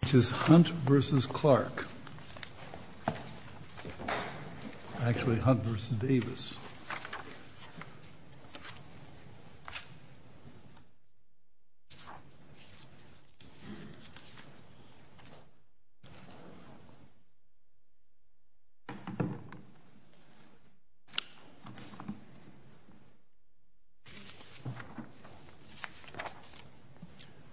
which is Hunt v. Clark, actually Hunt v. Davis.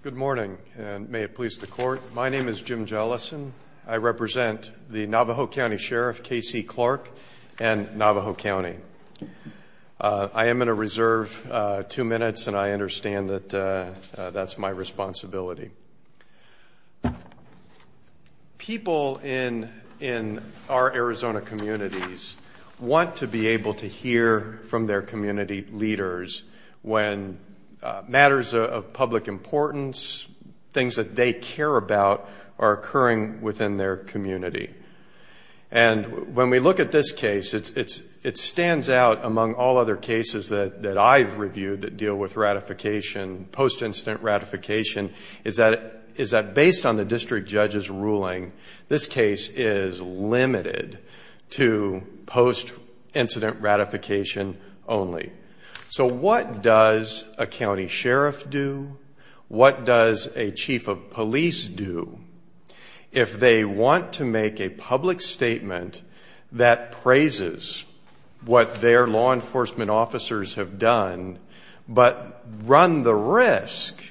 Good morning, and may it please the Court, my name is Jim Jellison, I represent the Navajo County. I am going to reserve two minutes and I understand that that's my responsibility. People in our Arizona communities want to be able to hear from their community leaders when matters of public importance, things that they care about are occurring within their community. And when we look at this case, it stands out among all other cases that I've reviewed that deal with ratification, post-incident ratification, is that based on the district judge's ruling, this case is limited to post-incident ratification only. So what does a county sheriff do? What does a chief of police do if they want to make a public statement that praises what their law enforcement officers have done, but run the risk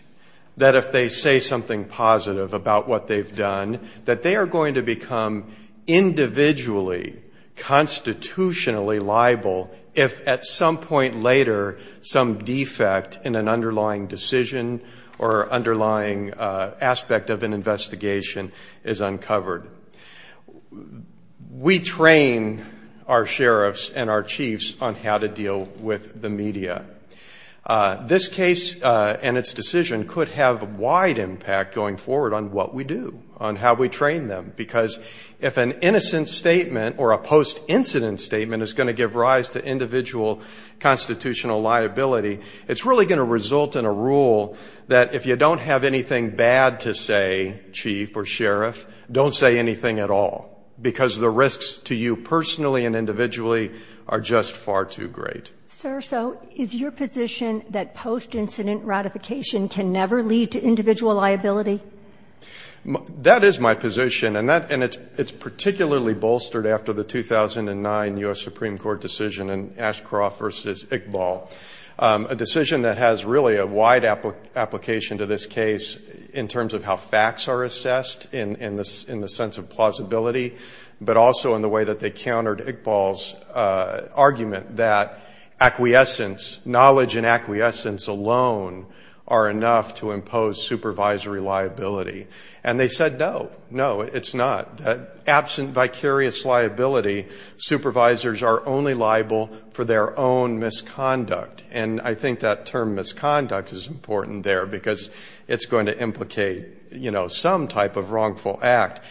that if they say something positive about what they've done, that they are going to become individually, constitutionally liable if at some point later some defect in an underlying decision or underlying aspect of an investigation is uncovered? We train our sheriffs and our chiefs on how to deal with the media. This case and its decision could have a wide impact going forward on what we do, on how we train them. Because if an innocent statement or a post-incident statement is going to give rise to individual constitutional liability, it's really going to result in a rule that if you don't have anything bad to say, chief or sheriff, don't say anything at all. Because the risks to you personally and individually are just far too great. Sir, so is your position that post-incident ratification can never lead to individual liability? That is my position, and it's particularly bolstered after the 2009 U.S. Supreme Court decision in Ashcroft v. Iqbal, a decision that has really a wide application to this case in terms of how facts are assessed in the sense of plausibility, but also in the counter to Iqbal's argument that acquiescence, knowledge and acquiescence alone are enough to impose supervisory liability. And they said, no, no, it's not. Absent vicarious liability, supervisors are only liable for their own misconduct. And I think that term, misconduct, is important there because it's going to implicate, you know, some type of wrongful act.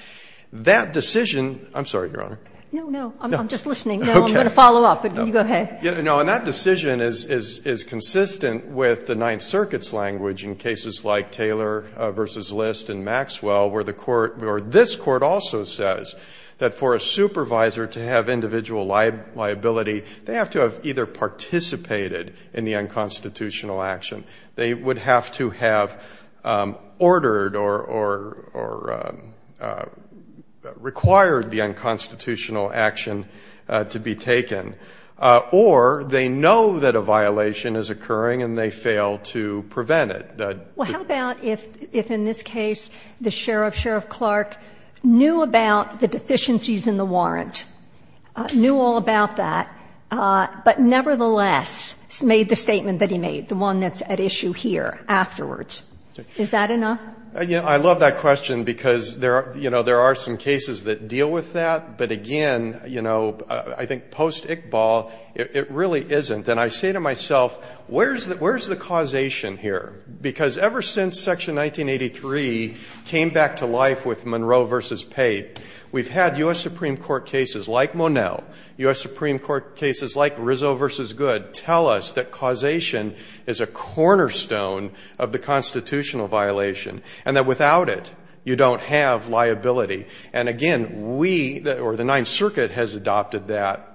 That is my position. No, I'm just listening. Okay. No, I'm going to follow up, but you go ahead. No, and that decision is consistent with the Ninth Circuit's language in cases like Taylor v. List and Maxwell, where the court or this Court also says that for a supervisor to have individual liability, they have to have either participated in the unconstitutional action. They would have to have ordered or required the unconstitutional action to be taken. Or they know that a violation is occurring and they fail to prevent it. Well, how about if in this case the sheriff, Sheriff Clark, knew about the deficiencies in the warrant, knew all about that, but nevertheless made the statement that he made, the one that's at issue here afterwards. Is that enough? You know, I love that question because there are, you know, there are some cases that deal with that, but again, you know, I think post-Iqbal, it really isn't. And I say to myself, where's the causation here? Because ever since Section 1983 came back to life with Monroe v. Pate, we've had U.S. Supreme Court cases like Monell, U.S. Supreme Court cases like Rizzo v. Good tell us that causation is a cornerstone of the Ninth Circuit has adopted that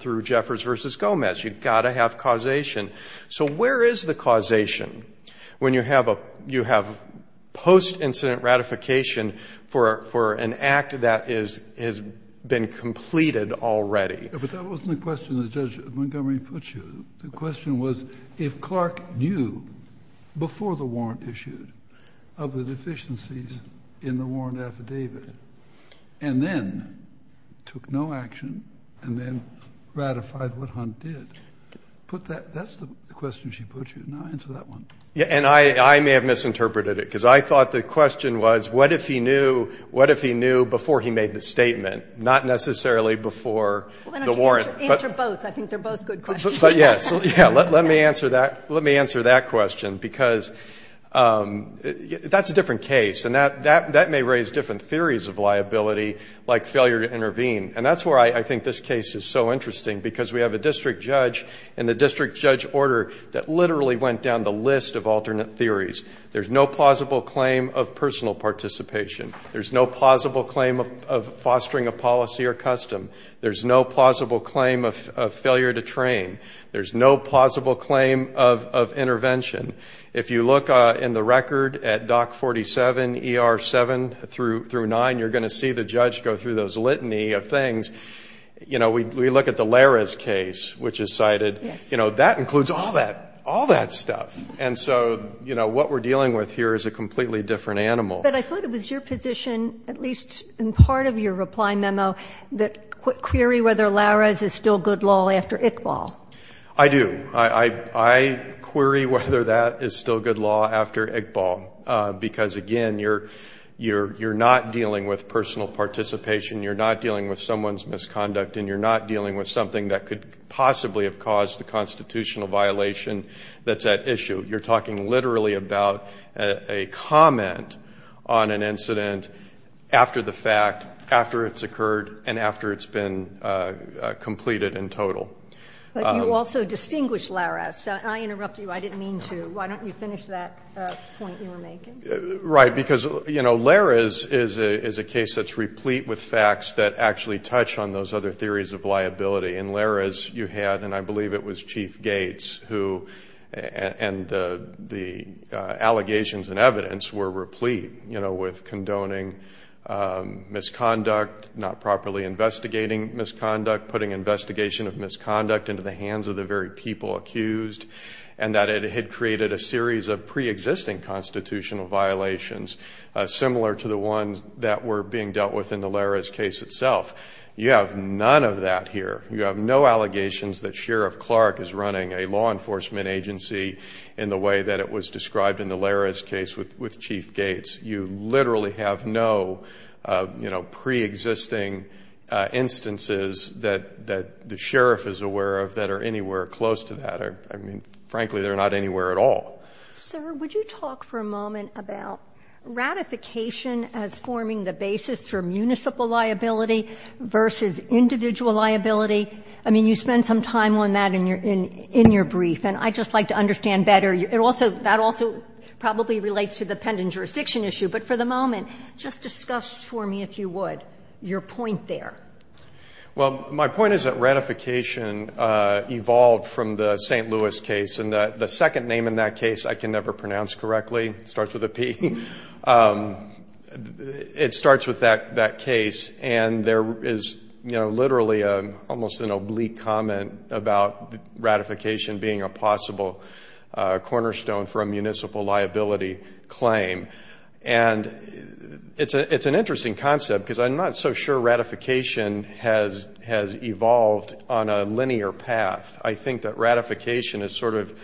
through Jeffers v. Gomez. You've got to have causation. So where is the causation when you have a, you have post-incident ratification for, for an act that is, has been completed already? But that wasn't the question that Judge Montgomery put you. The question was if Clark knew before the warrant issued of the deficiencies in the warrant affidavit and then took no action and then ratified what Hunt did, put that, that's the question she put you. Now answer that one. And I, I may have misinterpreted it because I thought the question was what if he knew, what if he knew before he made the statement, not necessarily before the warrant. Answer both. I think they're both good questions. But yes, let me answer that. Let me answer that question because that's a different case and that, that, that may raise different theories of liability like failure to intervene. And that's where I think this case is so interesting because we have a district judge and the district judge order that literally went down the list of alternate theories. There's no plausible claim of personal participation. There's no plausible claim of, of fostering a policy or custom. There's no plausible claim of, of failure to train. There's no plausible claim of, of intervention. If you look in the record at Dock 47, ER 7 through, through 9, you're going to see the judge go through those litany of things. You know, we, we look at the Lara's case, which is cited, you know, that includes all that, all that stuff. And so, you know, what we're dealing with here is a completely different animal. But I thought it was your position, at least in part of your reply memo, that query whether Lara's is still good law after Iqbal. I do. I, I query whether that is still good law after Iqbal because, again, you're, you're, you're not dealing with personal participation. You're not dealing with someone's misconduct and you're not dealing with something that could possibly have caused the constitutional violation that's at issue. You're talking literally about a comment on an incident after the fact, after it's occurred, and after it's been completed in total. But you also distinguish Lara's. I interrupt you. I didn't mean to. Why don't you finish that point you were making? Right. Because, you know, Lara's is a, is a case that's replete with facts that actually touch on those other theories of liability. In Lara's you had, and I believe it was Chief Gates who, and the, the allegations and evidence were replete, you know, with condoning misconduct, not properly investigating misconduct, putting investigation of misconduct into the hands of the very people accused, and that it had created a series of preexisting constitutional violations similar to the ones that were being dealt with in the Lara's case itself. You have none of that here. You have no allegations that Sheriff Clark is running a law enforcement agency in the way that it was described in the Lara's case with, with Chief Gates. You literally have no, you know, preexisting instances that, that the sheriff is aware of that are anywhere close to that. I mean, frankly, they're not anywhere at all. Sir, would you talk for a moment about ratification as forming the basis for municipal liability versus individual liability? I mean, you spend some time on that in your, in your brief, and I'd just like to understand better. It also, that also probably relates to the pending jurisdiction issue, but for the moment, just discuss for me, if you would, your point there. Well, my point is that ratification evolved from the St. Louis case, and the second name in that case I can never pronounce correctly. It starts with a P. It starts with that, that case, and there is, you know, literally a, almost an oblique comment about ratification being a possible cornerstone for a municipal liability claim. And it's a, it's an interesting concept, because I'm not so sure ratification has, has evolved on a linear path. I think that ratification is sort of,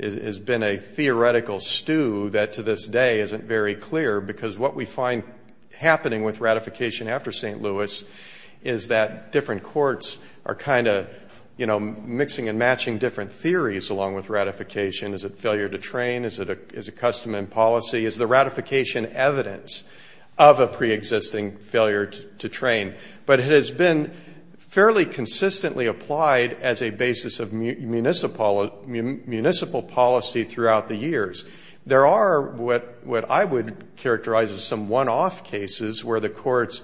has been a very clear, because what we find happening with ratification after St. Louis is that different courts are kind of, you know, mixing and matching different theories along with ratification. Is it failure to train? Is it a, is it custom and policy? Is the ratification evidence of a preexisting failure to train? But it has been fairly consistently applied as a basis of municipal, municipal policy throughout the years. There are what, what I would characterize as some one-off cases where the courts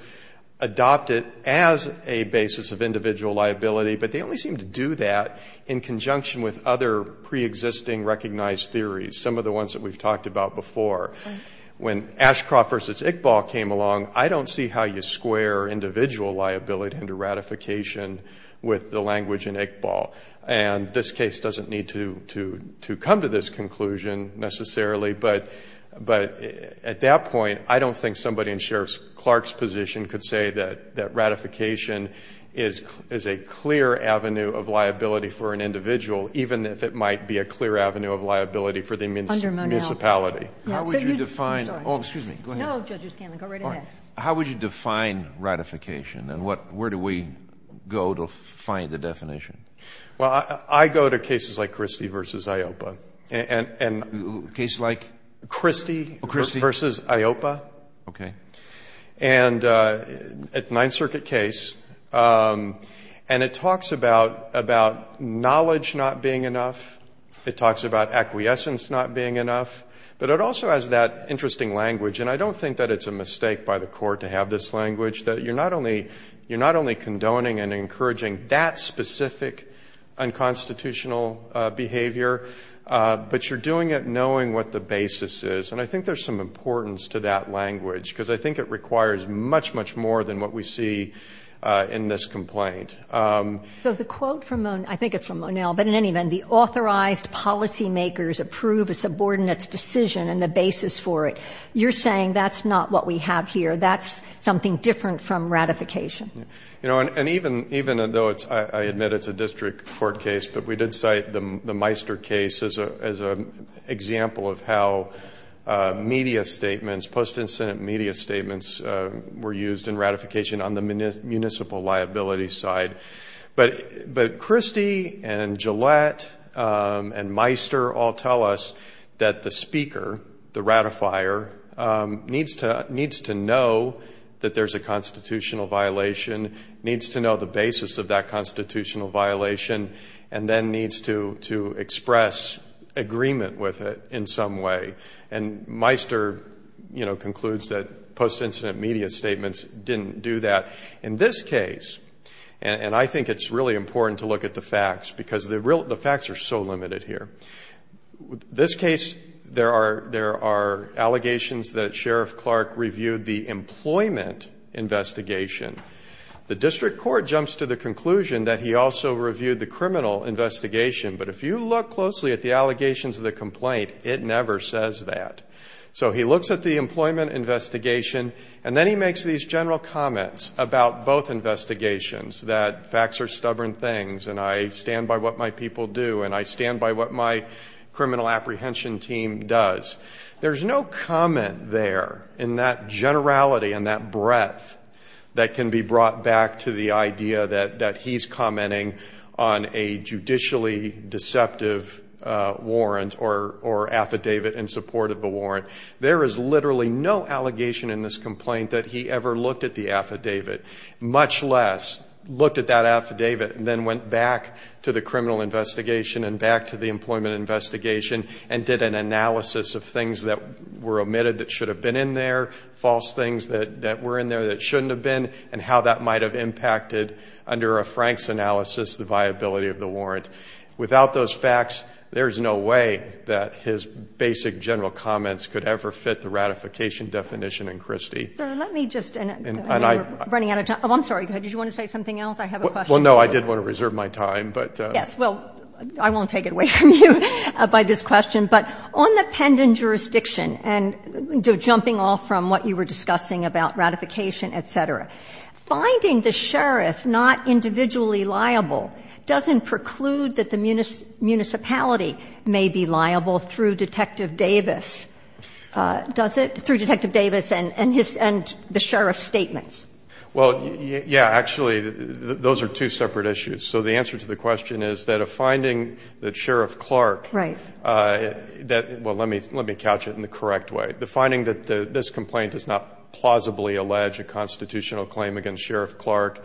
adopt it as a basis of individual liability, but they only seem to do that in conjunction with other preexisting recognized theories, some of the ones that we've talked about before. When Ashcroft v. Iqbal came along, I don't see how you square individual liability into ratification with the language in Iqbal. And this case doesn't need to, to, to come to this conclusion necessarily, but, but at that point, I don't think somebody in Sheriff Clark's position could say that, that ratification is, is a clear avenue of liability for an individual, even if it might be a clear avenue of liability for the municipality. How would you define, oh, excuse me, go ahead. No, Judge O'Scanlan, go right ahead. How would you define ratification and what, where do we go to find the definition? Well, I, I go to cases like Christie v. Ioppa and, and. Cases like? Christie v. Ioppa. Okay. And at Ninth Circuit case, and it talks about, about knowledge not being enough. It talks about acquiescence not being enough. But it also has that interesting language, and I don't think that it's a mistake by the court to have this language, that you're not only, you're not only condoning and encouraging that specific unconstitutional behavior, but you're doing it knowing what the basis is. And I think there's some importance to that language, because I think it requires much, much more than what we see in this complaint. So the quote from, I think it's from Monell, but in any event, the authorized policy makers approve a subordinate's decision and the basis for it. You're saying that's not what we have here. That's something different from ratification. You know, and even, even though it's, I admit it's a district court case, but we did cite the, the Meister case as a, as a example of how media statements, post-incident media statements were used in ratification on the municipal liability side. But, but Christie and Gillette and Meister all tell us that the speaker, the ratifier, needs to, needs to know that there's a constitutional violation, needs to know the basis of that constitutional violation, and then needs to, to express agreement with it in some way. And Meister, you know, concludes that post-incident media statements didn't do that. In this case, and I think it's really important to look at the facts because the facts are so important. There are allegations that Sheriff Clark reviewed the employment investigation. The district court jumps to the conclusion that he also reviewed the criminal investigation. But if you look closely at the allegations of the complaint, it never says that. So he looks at the employment investigation, and then he makes these general comments about both investigations, that facts are stubborn things, and I stand by what my people do, and I stand by what my criminal apprehension team does. There's no comment there in that generality and that breadth that can be brought back to the idea that he's commenting on a judicially deceptive warrant or affidavit in support of the warrant. There is literally no allegation in this complaint that he ever looked at the affidavit, much less looked at that affidavit and then went back to the criminal investigation and back to the employment investigation and did an analysis of things that were omitted that should have been in there, false things that were in there that shouldn't have been, and how that might have impacted under a Frank's analysis the viability of the warrant. Without those facts, there's no way that his basic general comments could ever fit the I'm sorry. I want to reserve my time, but — Yes. Well, I won't take it away from you by this question, but on the pendent jurisdiction, and jumping off from what you were discussing about ratification, et cetera, finding the sheriff not individually liable doesn't preclude that the municipality may be liable through Detective Davis, does it, through Detective Davis and his — and the sheriff's statements. Well, yeah. Actually, those are two separate issues. So the answer to the question is that a finding that Sheriff Clark — Right. Well, let me couch it in the correct way. The finding that this complaint does not plausibly allege a constitutional claim against Sheriff Clark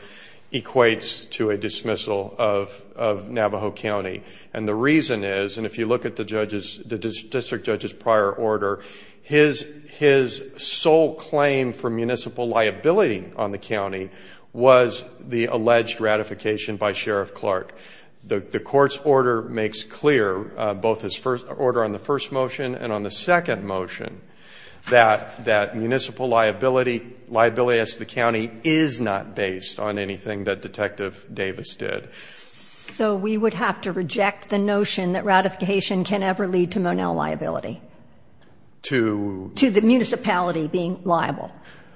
equates to a dismissal of Navajo County. And the reason is, and if you look at the district judge's prior order, his sole claim for municipal liability on the county was the alleged ratification by Sheriff Clark. The court's order makes clear, both his order on the first motion and on the second motion, that municipal liability as to the county is not based on anything that Detective Davis did. So we would have to reject the notion that ratification can ever lead to Monell liability? To — To the municipality being liable.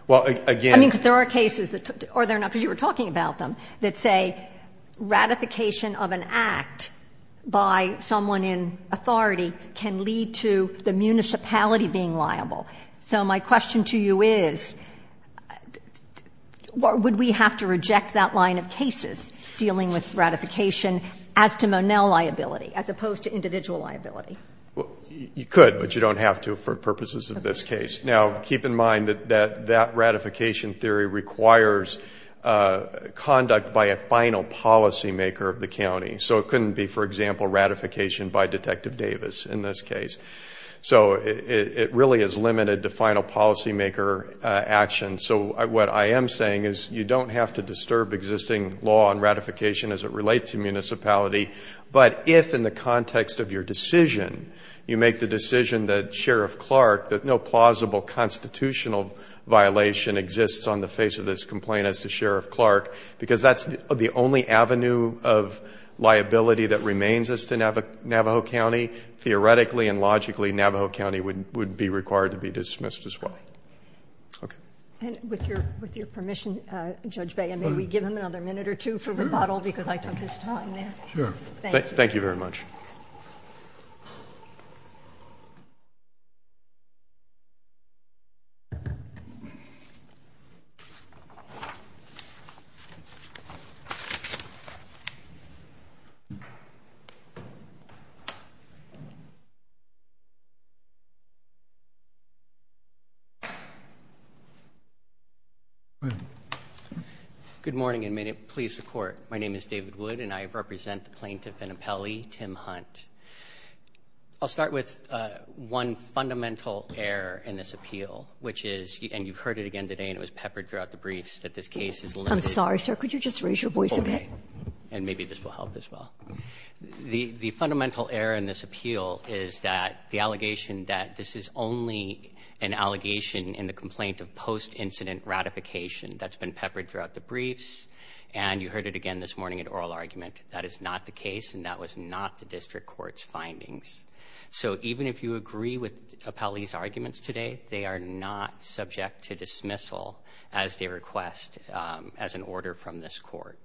Well, again — I mean, because there are cases that — or there are not, because you were talking about them — that say ratification of an act by someone in authority can lead to the municipality being liable. So my question to you is, would we have to reject that line of cases dealing with ratification as to Monell liability, as opposed to individual liability? Well, you could, but you don't have to for purposes of this case. Okay. Now, keep in mind that that ratification theory requires conduct by a final policymaker of the county. So it couldn't be, for example, ratification by Detective Davis in this case. So it really is limited to final policymaker action. So what I am saying is you don't have to disturb existing law on ratification as it relates to municipality. But if, in the context of your decision, you make the decision that Sheriff Clark, that no plausible constitutional violation exists on the face of this complaint as to Sheriff Clark, because that's the only avenue of liability that remains as to Navajo County, theoretically and logically, Navajo County would be required to be dismissed as well. Okay. And with your permission, Judge Baya, may we give him another minute or two for rebuttal because I took his time there? Sure. Thank you. Thank you very much. Go ahead. Good morning, and may it please the Court. My name is David Wood, and I represent the plaintiff and appellee, Tim Hunt. I'll start with one fundamental error in this appeal, which is, and you've heard it again today and it was peppered throughout the briefs, that this case is limited to I'm sorry, sir. Could you just raise your voice a bit? Okay. And maybe this will help as well. The fundamental error in this appeal is that the allegation that this is only an allegation in the complaint of post-incident ratification that's been peppered throughout the briefs, and you heard it again this morning in oral argument, that is not the case, and that was not the district court's findings. So even if you agree with appellee's arguments today, they are not subject to dismissal as they request as an order from this court.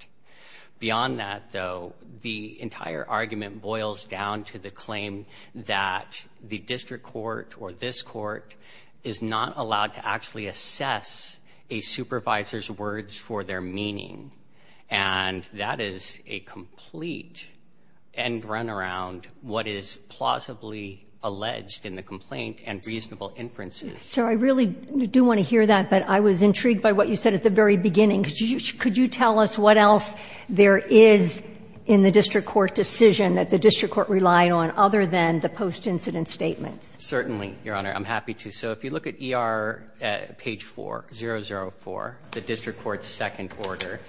Beyond that, though, the entire argument boils down to the claim that the district court or this court is not allowed to actually assess a supervisor's words for their meaning. And that is a complete end-runaround, what is plausibly alleged in the complaint and reasonable inferences. So I really do want to hear that, but I was intrigued by what you said at the very beginning. Could you tell us what else there is in the district court decision that the district court relied on other than the post-incident statements? Certainly, Your Honor. I'm happy to. So if you look at ER page 4, 004, the district court's second order,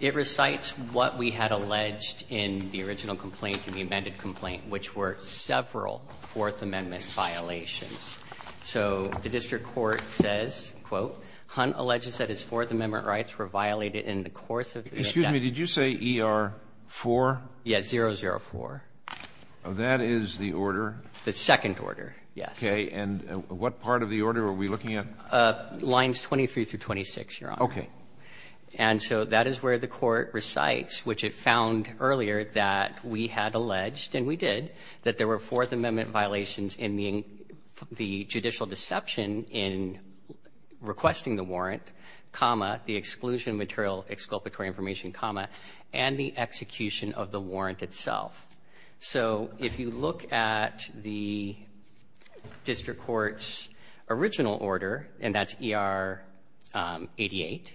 it recites what we had alleged in the original complaint and the amended complaint, which were several Fourth Amendment violations. So the district court says, quote, Excuse me. Did you say ER 4? Yes, 004. That is the order? The second order, yes. Okay. And what part of the order are we looking at? Lines 23 through 26, Your Honor. Okay. And so that is where the court recites, which it found earlier that we had alleged and we did, that there were Fourth Amendment violations in the judicial deception in requesting the warrant, comma, the exclusion of material, exculpatory information, comma, and the execution of the warrant itself. So if you look at the district court's original order, and that's ER 88,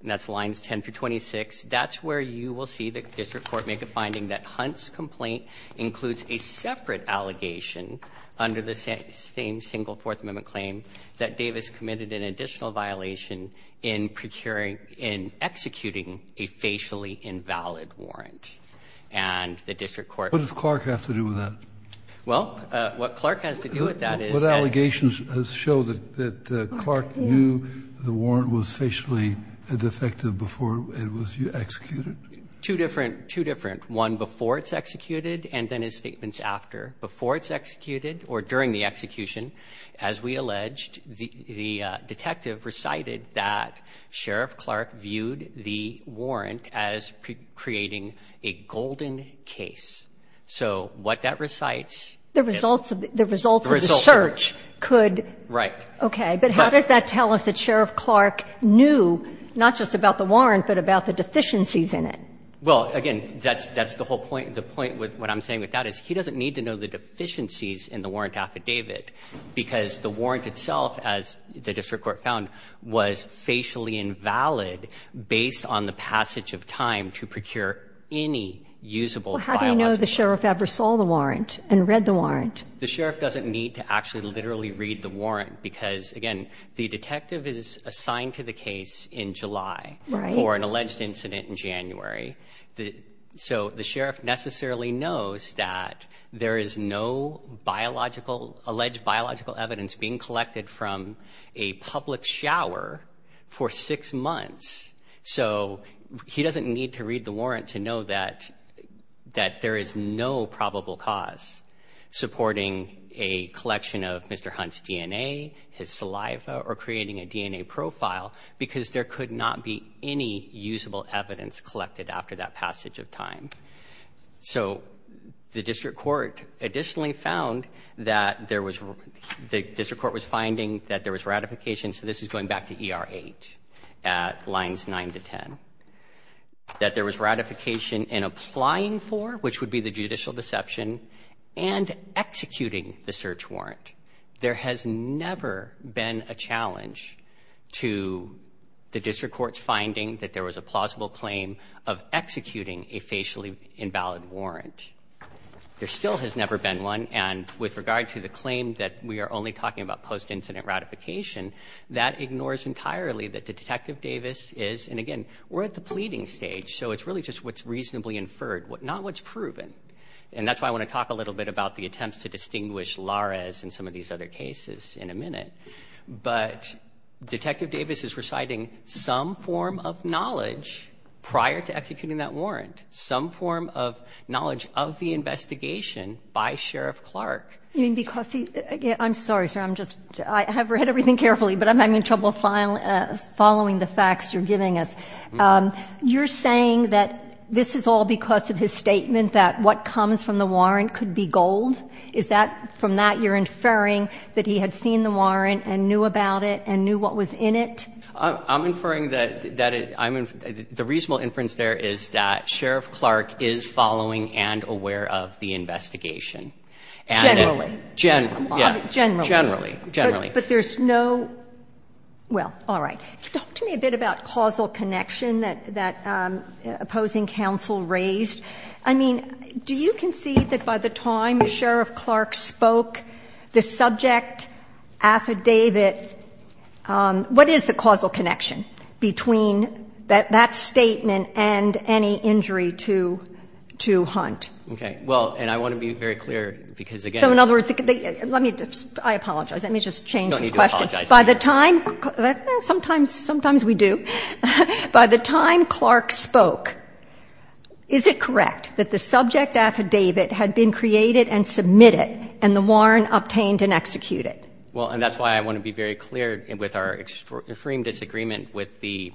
and that's lines 10 through 26, that's where you will see the district court make a finding that Hunt's complaint includes a separate allegation under the same single Fourth Amendment claim that Davis committed an additional violation in procuring and executing a facially invalid warrant. And the district court ---- What does Clark have to do with that? Well, what Clark has to do with that is that ---- What allegations show that Clark knew the warrant was facially defective before it was executed? Two different, two different. One, before it's executed, and then his statements after. Before it's executed or during the execution, as we alleged, the detective recited that Sheriff Clark viewed the warrant as creating a golden case. So what that recites ---- The results of the search could ---- Right. Okay. But how does that tell us that Sheriff Clark knew not just about the warrant, but about the deficiencies in it? Well, again, that's the whole point. The point with what I'm saying with that is he doesn't need to know the deficiencies in the warrant affidavit because the warrant itself, as the district court found, was facially invalid based on the passage of time to procure any usable biological evidence. Well, how do you know the sheriff ever saw the warrant and read the warrant? The sheriff doesn't need to actually literally read the warrant because, again, the detective is assigned to the case in July for an alleged incident in January. So the sheriff necessarily knows that there is no biological ---- alleged biological evidence being collected from a public shower for six months. So he doesn't need to read the warrant to know that there is no probable cause supporting a collection of Mr. Hunt's DNA, his saliva, or creating a DNA profile because there could not be any usable evidence collected after that passage of time. So the district court additionally found that there was ---- the district court was finding that there was ratification, so this is going back to ER 8 at lines 9 to 10, that there was ratification in applying for, which would be the judicial deception, and executing the search warrant. There has never been a challenge to the district court's finding that there was a plausible claim of executing a facially invalid warrant. There still has never been one, and with regard to the claim that we are only talking about post-incident ratification, that ignores entirely that Detective Davis is, and again, we're at the pleading stage, so it's really just what's reasonably inferred, not what's proven. And that's why I want to talk a little bit about the attempts to distinguish from Larez and some of these other cases in a minute. But Detective Davis is reciting some form of knowledge prior to executing that warrant, some form of knowledge of the investigation by Sheriff Clark. You mean because he ---- I'm sorry, sir, I'm just ---- I have read everything carefully, but I'm having trouble following the facts you're giving us. You're saying that this is all because of his statement that what comes from the warrant, and on that you're inferring that he had seen the warrant and knew about it and knew what was in it? I'm inferring that the reasonable inference there is that Sheriff Clark is following and aware of the investigation. Generally. Generally, yes. Generally. Generally. But there's no ---- well, all right. Talk to me a bit about causal connection that opposing counsel raised. I mean, do you concede that by the time Sheriff Clark spoke, the subject affidavit ---- what is the causal connection between that statement and any injury to Hunt? Okay. Well, and I want to be very clear, because again ---- So in other words, let me just ---- I apologize. Let me just change this question. No, you don't have to apologize. By the time ---- sometimes we do. By the time Clark spoke, is it correct that the subject affidavit had been created and submitted and the warrant obtained and executed? Well, and that's why I want to be very clear with our extreme disagreement with the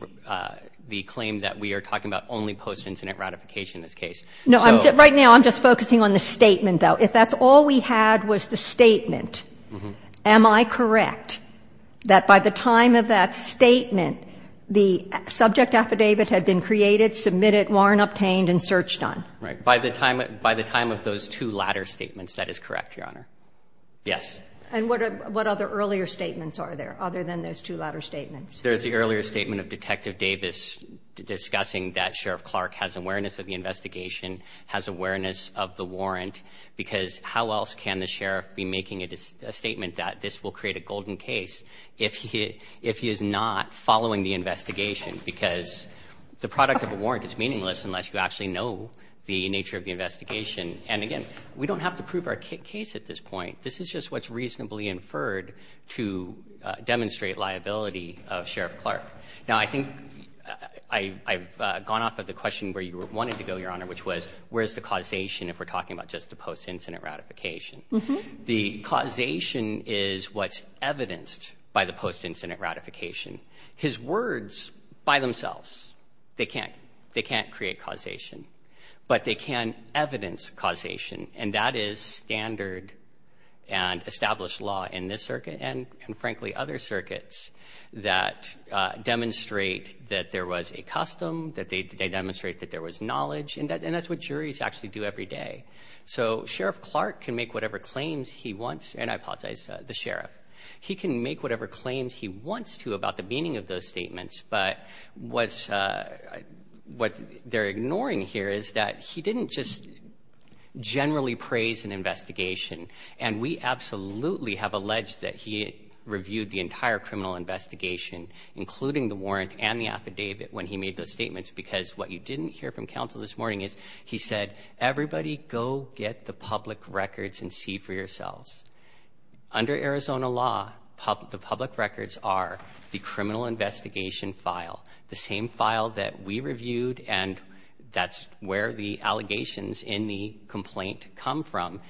claim that we are talking about only post-incident ratification in this case. No, right now I'm just focusing on the statement, though. If that's all we had was the statement, am I correct that by the time of that the subject affidavit had been created, submitted, warrant obtained and searched on? Right. By the time of those two latter statements, that is correct, Your Honor. Yes. And what other earlier statements are there, other than those two latter statements? There's the earlier statement of Detective Davis discussing that Sheriff Clark has awareness of the investigation, has awareness of the warrant, because how else can the sheriff be making a statement that this will create a golden case if he is not following the investigation? Because the product of a warrant is meaningless unless you actually know the nature of the investigation. And again, we don't have to prove our case at this point. This is just what's reasonably inferred to demonstrate liability of Sheriff Clark. Now, I think I've gone off of the question where you wanted to go, Your Honor, which was where's the causation if we're talking about just the post-incident ratification? The causation is what's evidenced by the post-incident ratification. His words by themselves, they can't create causation, but they can evidence causation, and that is standard and established law in this circuit and, frankly, other circuits that demonstrate that there was a custom, that they demonstrate that there was knowledge, and that's what juries actually do every day. So Sheriff Clark can make whatever claims he wants. And I apologize, the sheriff. He can make whatever claims he wants to about the meaning of those statements, but what they're ignoring here is that he didn't just generally praise an investigation, and we absolutely have alleged that he reviewed the entire criminal investigation, including the warrant and the affidavit, when he made those statements, because what you didn't hear from counsel this morning is he said, everybody go get the public records and see for yourselves. Under Arizona law, the public records are the criminal investigation file, the same file that we reviewed, and that's where the allegations in the complaint come from.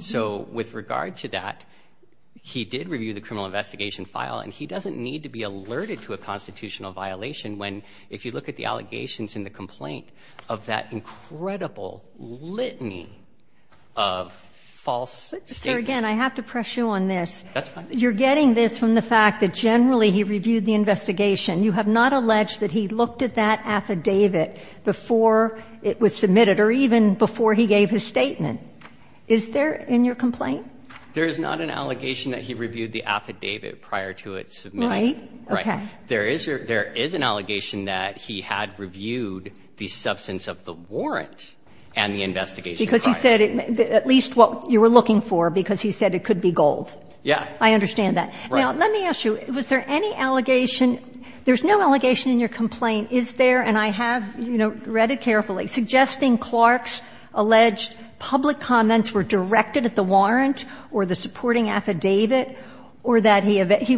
So with regard to that, he did review the criminal investigation file, and he doesn't need to be alerted to a constitutional violation when, if you look at the allegations in the complaint of that incredible litany of false statements. Kagan, I have to press you on this. That's fine. You're getting this from the fact that generally he reviewed the investigation. You have not alleged that he looked at that affidavit before it was submitted or even before he gave his statement. Is there in your complaint? There is not an allegation that he reviewed the affidavit prior to it submitting. Okay. There is an allegation that he had reviewed the substance of the warrant and the investigation. Because he said at least what you were looking for, because he said it could be gold. Yeah. I understand that. Now, let me ask you, was there any allegation? There's no allegation in your complaint, is there? And I have, you know, read it carefully. Suggesting Clark's alleged public comments were directed at the warrant or the supporting affidavit, or that he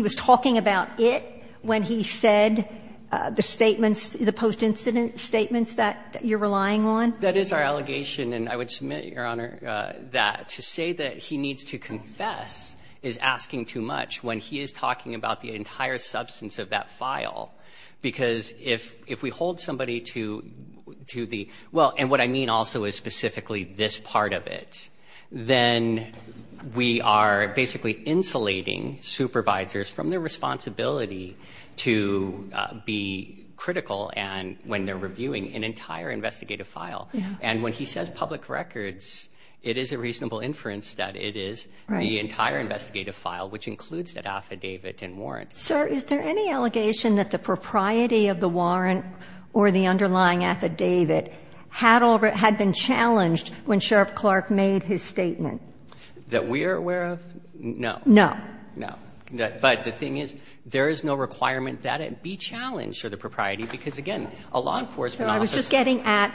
was talking about it when he said the statements, the post-incident statements that you're relying on? That is our allegation. And I would submit, Your Honor, that to say that he needs to confess is asking too much when he is talking about the entire substance of that file. Because if we hold somebody to the – well, and what I mean also is specifically this part of it, then we are basically insulating supervisors from their responsibility to be critical when they're reviewing an entire investigative file. And when he says public records, it is a reasonable inference that it is the entire investigative file, which includes that affidavit and warrant. Sir, is there any allegation that the propriety of the warrant or the underlying affidavit had been challenged when Sheriff Clark made his statement? That we are aware of? No. No. No. But the thing is, there is no requirement that it be challenged for the propriety, because, again, a law enforcement office – So I was just getting at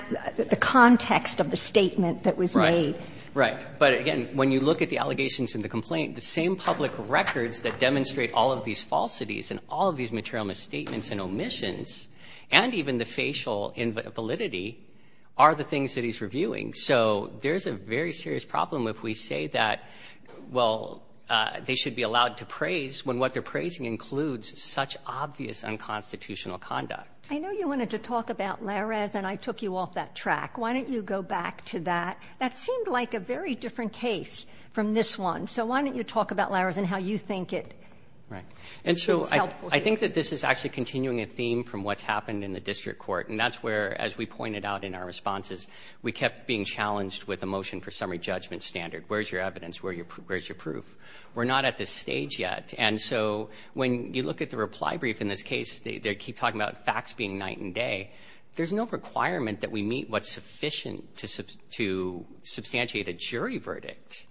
the context of the statement that was made. Right. Right. But, again, when you look at the allegations in the complaint, the same public records that demonstrate all of these falsities and all of these material misstatements and omissions, and even the facial validity, are the things that he's reviewing. So there's a very serious problem if we say that, well, they should be allowed to praise when what they're praising includes such obvious unconstitutional conduct. I know you wanted to talk about Lares, and I took you off that track. Why don't you go back to that? That seemed like a very different case from this one. So why don't you talk about Lares and how you think it is helpful to you? Right. And so I think that this is actually continuing a theme from what's happened in the district court. And that's where, as we pointed out in our responses, we kept being challenged with a motion for summary judgment standard. Where's your evidence? Where's your proof? We're not at this stage yet. And so when you look at the reply brief in this case, they keep talking about facts being night and day. There's no requirement that we meet what's sufficient to substantiate a jury verdict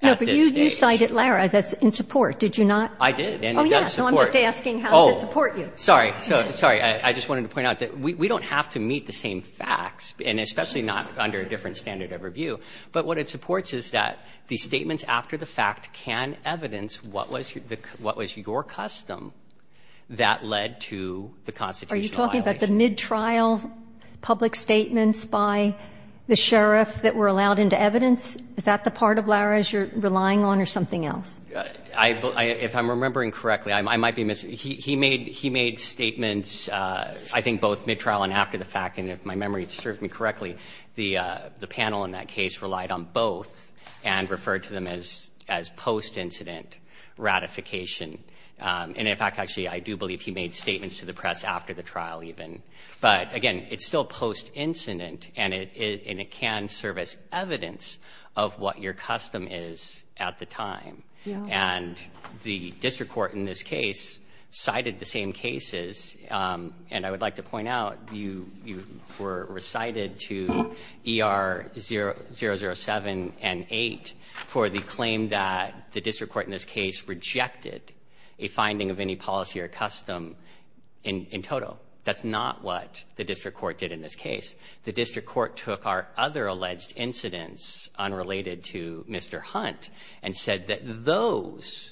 at this stage. No, but you cited Lares in support. Did you not? I did, and it does support. Oh, yeah. So I'm just asking how does it support you? Oh, sorry. Sorry. I just wanted to point out that we don't have to meet the same facts, and especially not under a different standard of review. But what it supports is that the statements after the fact can evidence what was your custom that led to the constitutional violations. Are you talking about the midtrial public statements by the sheriff that were allowed into evidence? Is that the part of Lares you're relying on or something else? If I'm remembering correctly, he made statements, I think, both midtrial and after the fact. And if my memory serves me correctly, the panel in that case relied on both and referred to them as post-incident ratification. And, in fact, actually, I do believe he made statements to the press after the trial even. But, again, it's still post-incident, and it can serve as evidence of what your And the district court in this case cited the same cases. And I would like to point out, you were recited to ER 007 and 8 for the claim that the district court in this case rejected a finding of any policy or custom in total. That's not what the district court did in this case. The district court took our other alleged incidents unrelated to Mr. Hunt and said that those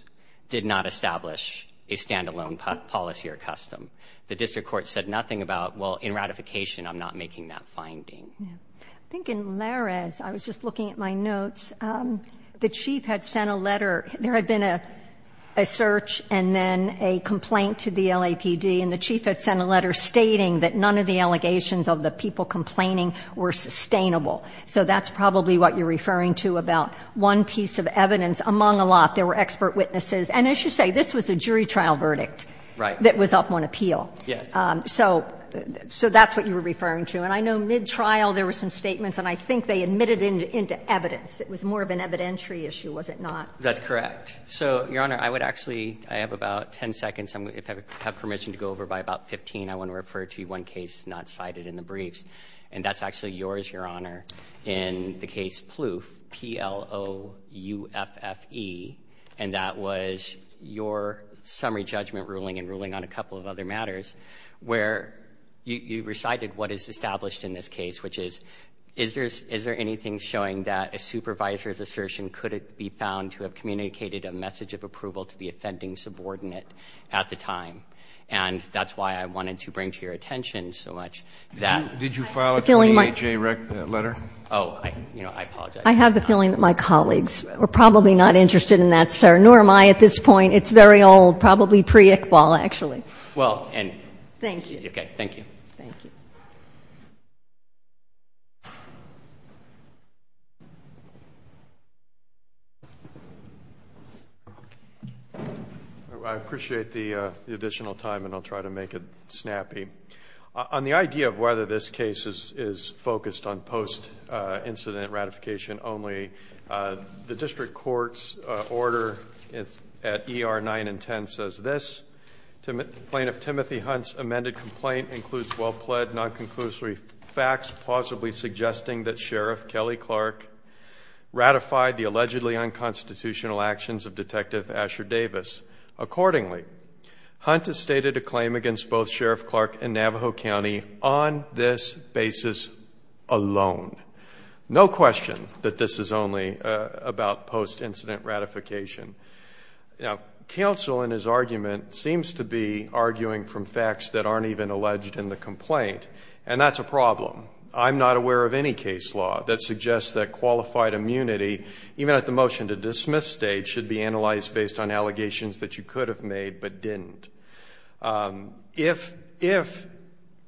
did not establish a standalone policy or custom. The district court said nothing about, well, in ratification, I'm not making that finding. I think in Lares, I was just looking at my notes, the chief had sent a letter. There had been a search and then a complaint to the LAPD, and the chief had sent a letter stating that none of the allegations of the people complaining were sustainable. So that's probably what you're referring to about one piece of evidence. Among a lot, there were expert witnesses. And I should say, this was a jury trial verdict that was up on appeal. So that's what you were referring to. And I know mid-trial, there were some statements, and I think they admitted into evidence. It was more of an evidentiary issue, was it not? That's correct. So, Your Honor, I would actually, I have about ten seconds. If I have permission to go over by about 15, I want to refer to one case not cited in the briefs. And that's actually yours, Your Honor, in the case Plouffe, P-L-O-U-F-F-E. And that was your summary judgment ruling and ruling on a couple of other matters, where you recited what is established in this case, which is, is there anything showing that a supervisor's assertion could be found to have communicated a message of approval to the offending subordinate at the time? And that's why I wanted to bring to your attention so much that Did you file a 28-J letter? Oh, I apologize. I have the feeling that my colleagues were probably not interested in that, sir, nor am I at this point. It's very old, probably pre-Iqbal, actually. Well, and thank you. Okay, thank you. Thank you. I appreciate the additional time, and I'll try to make it snappy. On the idea of whether this case is focused on post-incident ratification only, the district court's order at ER 9 and 10 says this, Plaintiff Timothy Hunt's amended complaint includes well-pled non-conclusory facts, plausibly suggesting that Sheriff Kelly Clark ratified the allegedly unconstitutional actions of Detective Asher Davis. Accordingly, Hunt has stated a claim against both Sheriff Clark and Navajo County on this basis alone. No question that this is only about post-incident ratification. Now, counsel in his argument seems to be arguing from facts that aren't even alleged in the complaint, and that's a problem. I'm not aware of any case law that suggests that qualified immunity, even at the motion to dismiss stage, should be analyzed based on allegations that you could have made but didn't. If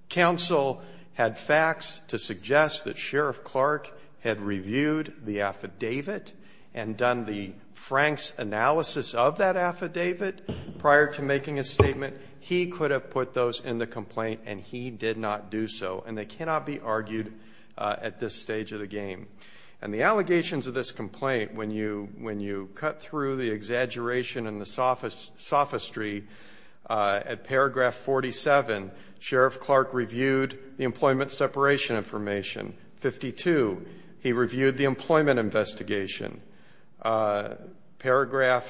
counsel had facts to suggest that Sheriff Clark had reviewed the affidavit and done the Frank's analysis of that affidavit prior to making a statement, he could have put those in the complaint, and he did not do so, and they cannot be argued at this stage of the game. And the allegations of this complaint, when you cut through the exaggeration and the sophistry, at paragraph 47, Sheriff Clark reviewed the employment separation information. Fifty-two, he reviewed the employment investigation. Paragraph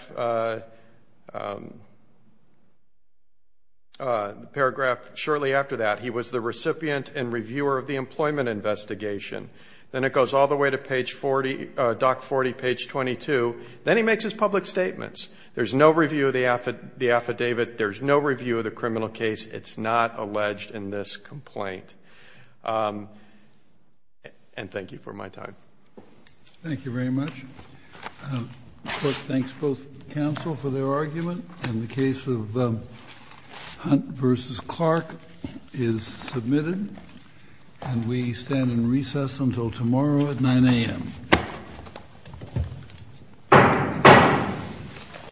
shortly after that, he was the recipient and reviewer of the employment investigation. Then it goes all the way to page 40, doc 40, page 22. Then he makes his public statements. There's no review of the affidavit. There's no review of the criminal case. It's not alleged in this complaint. And thank you for my time. Thank you very much. First, thanks both counsel for their argument. And the case of Hunt v. Clark is submitted. And we stand in recess until tomorrow at 9 a.m.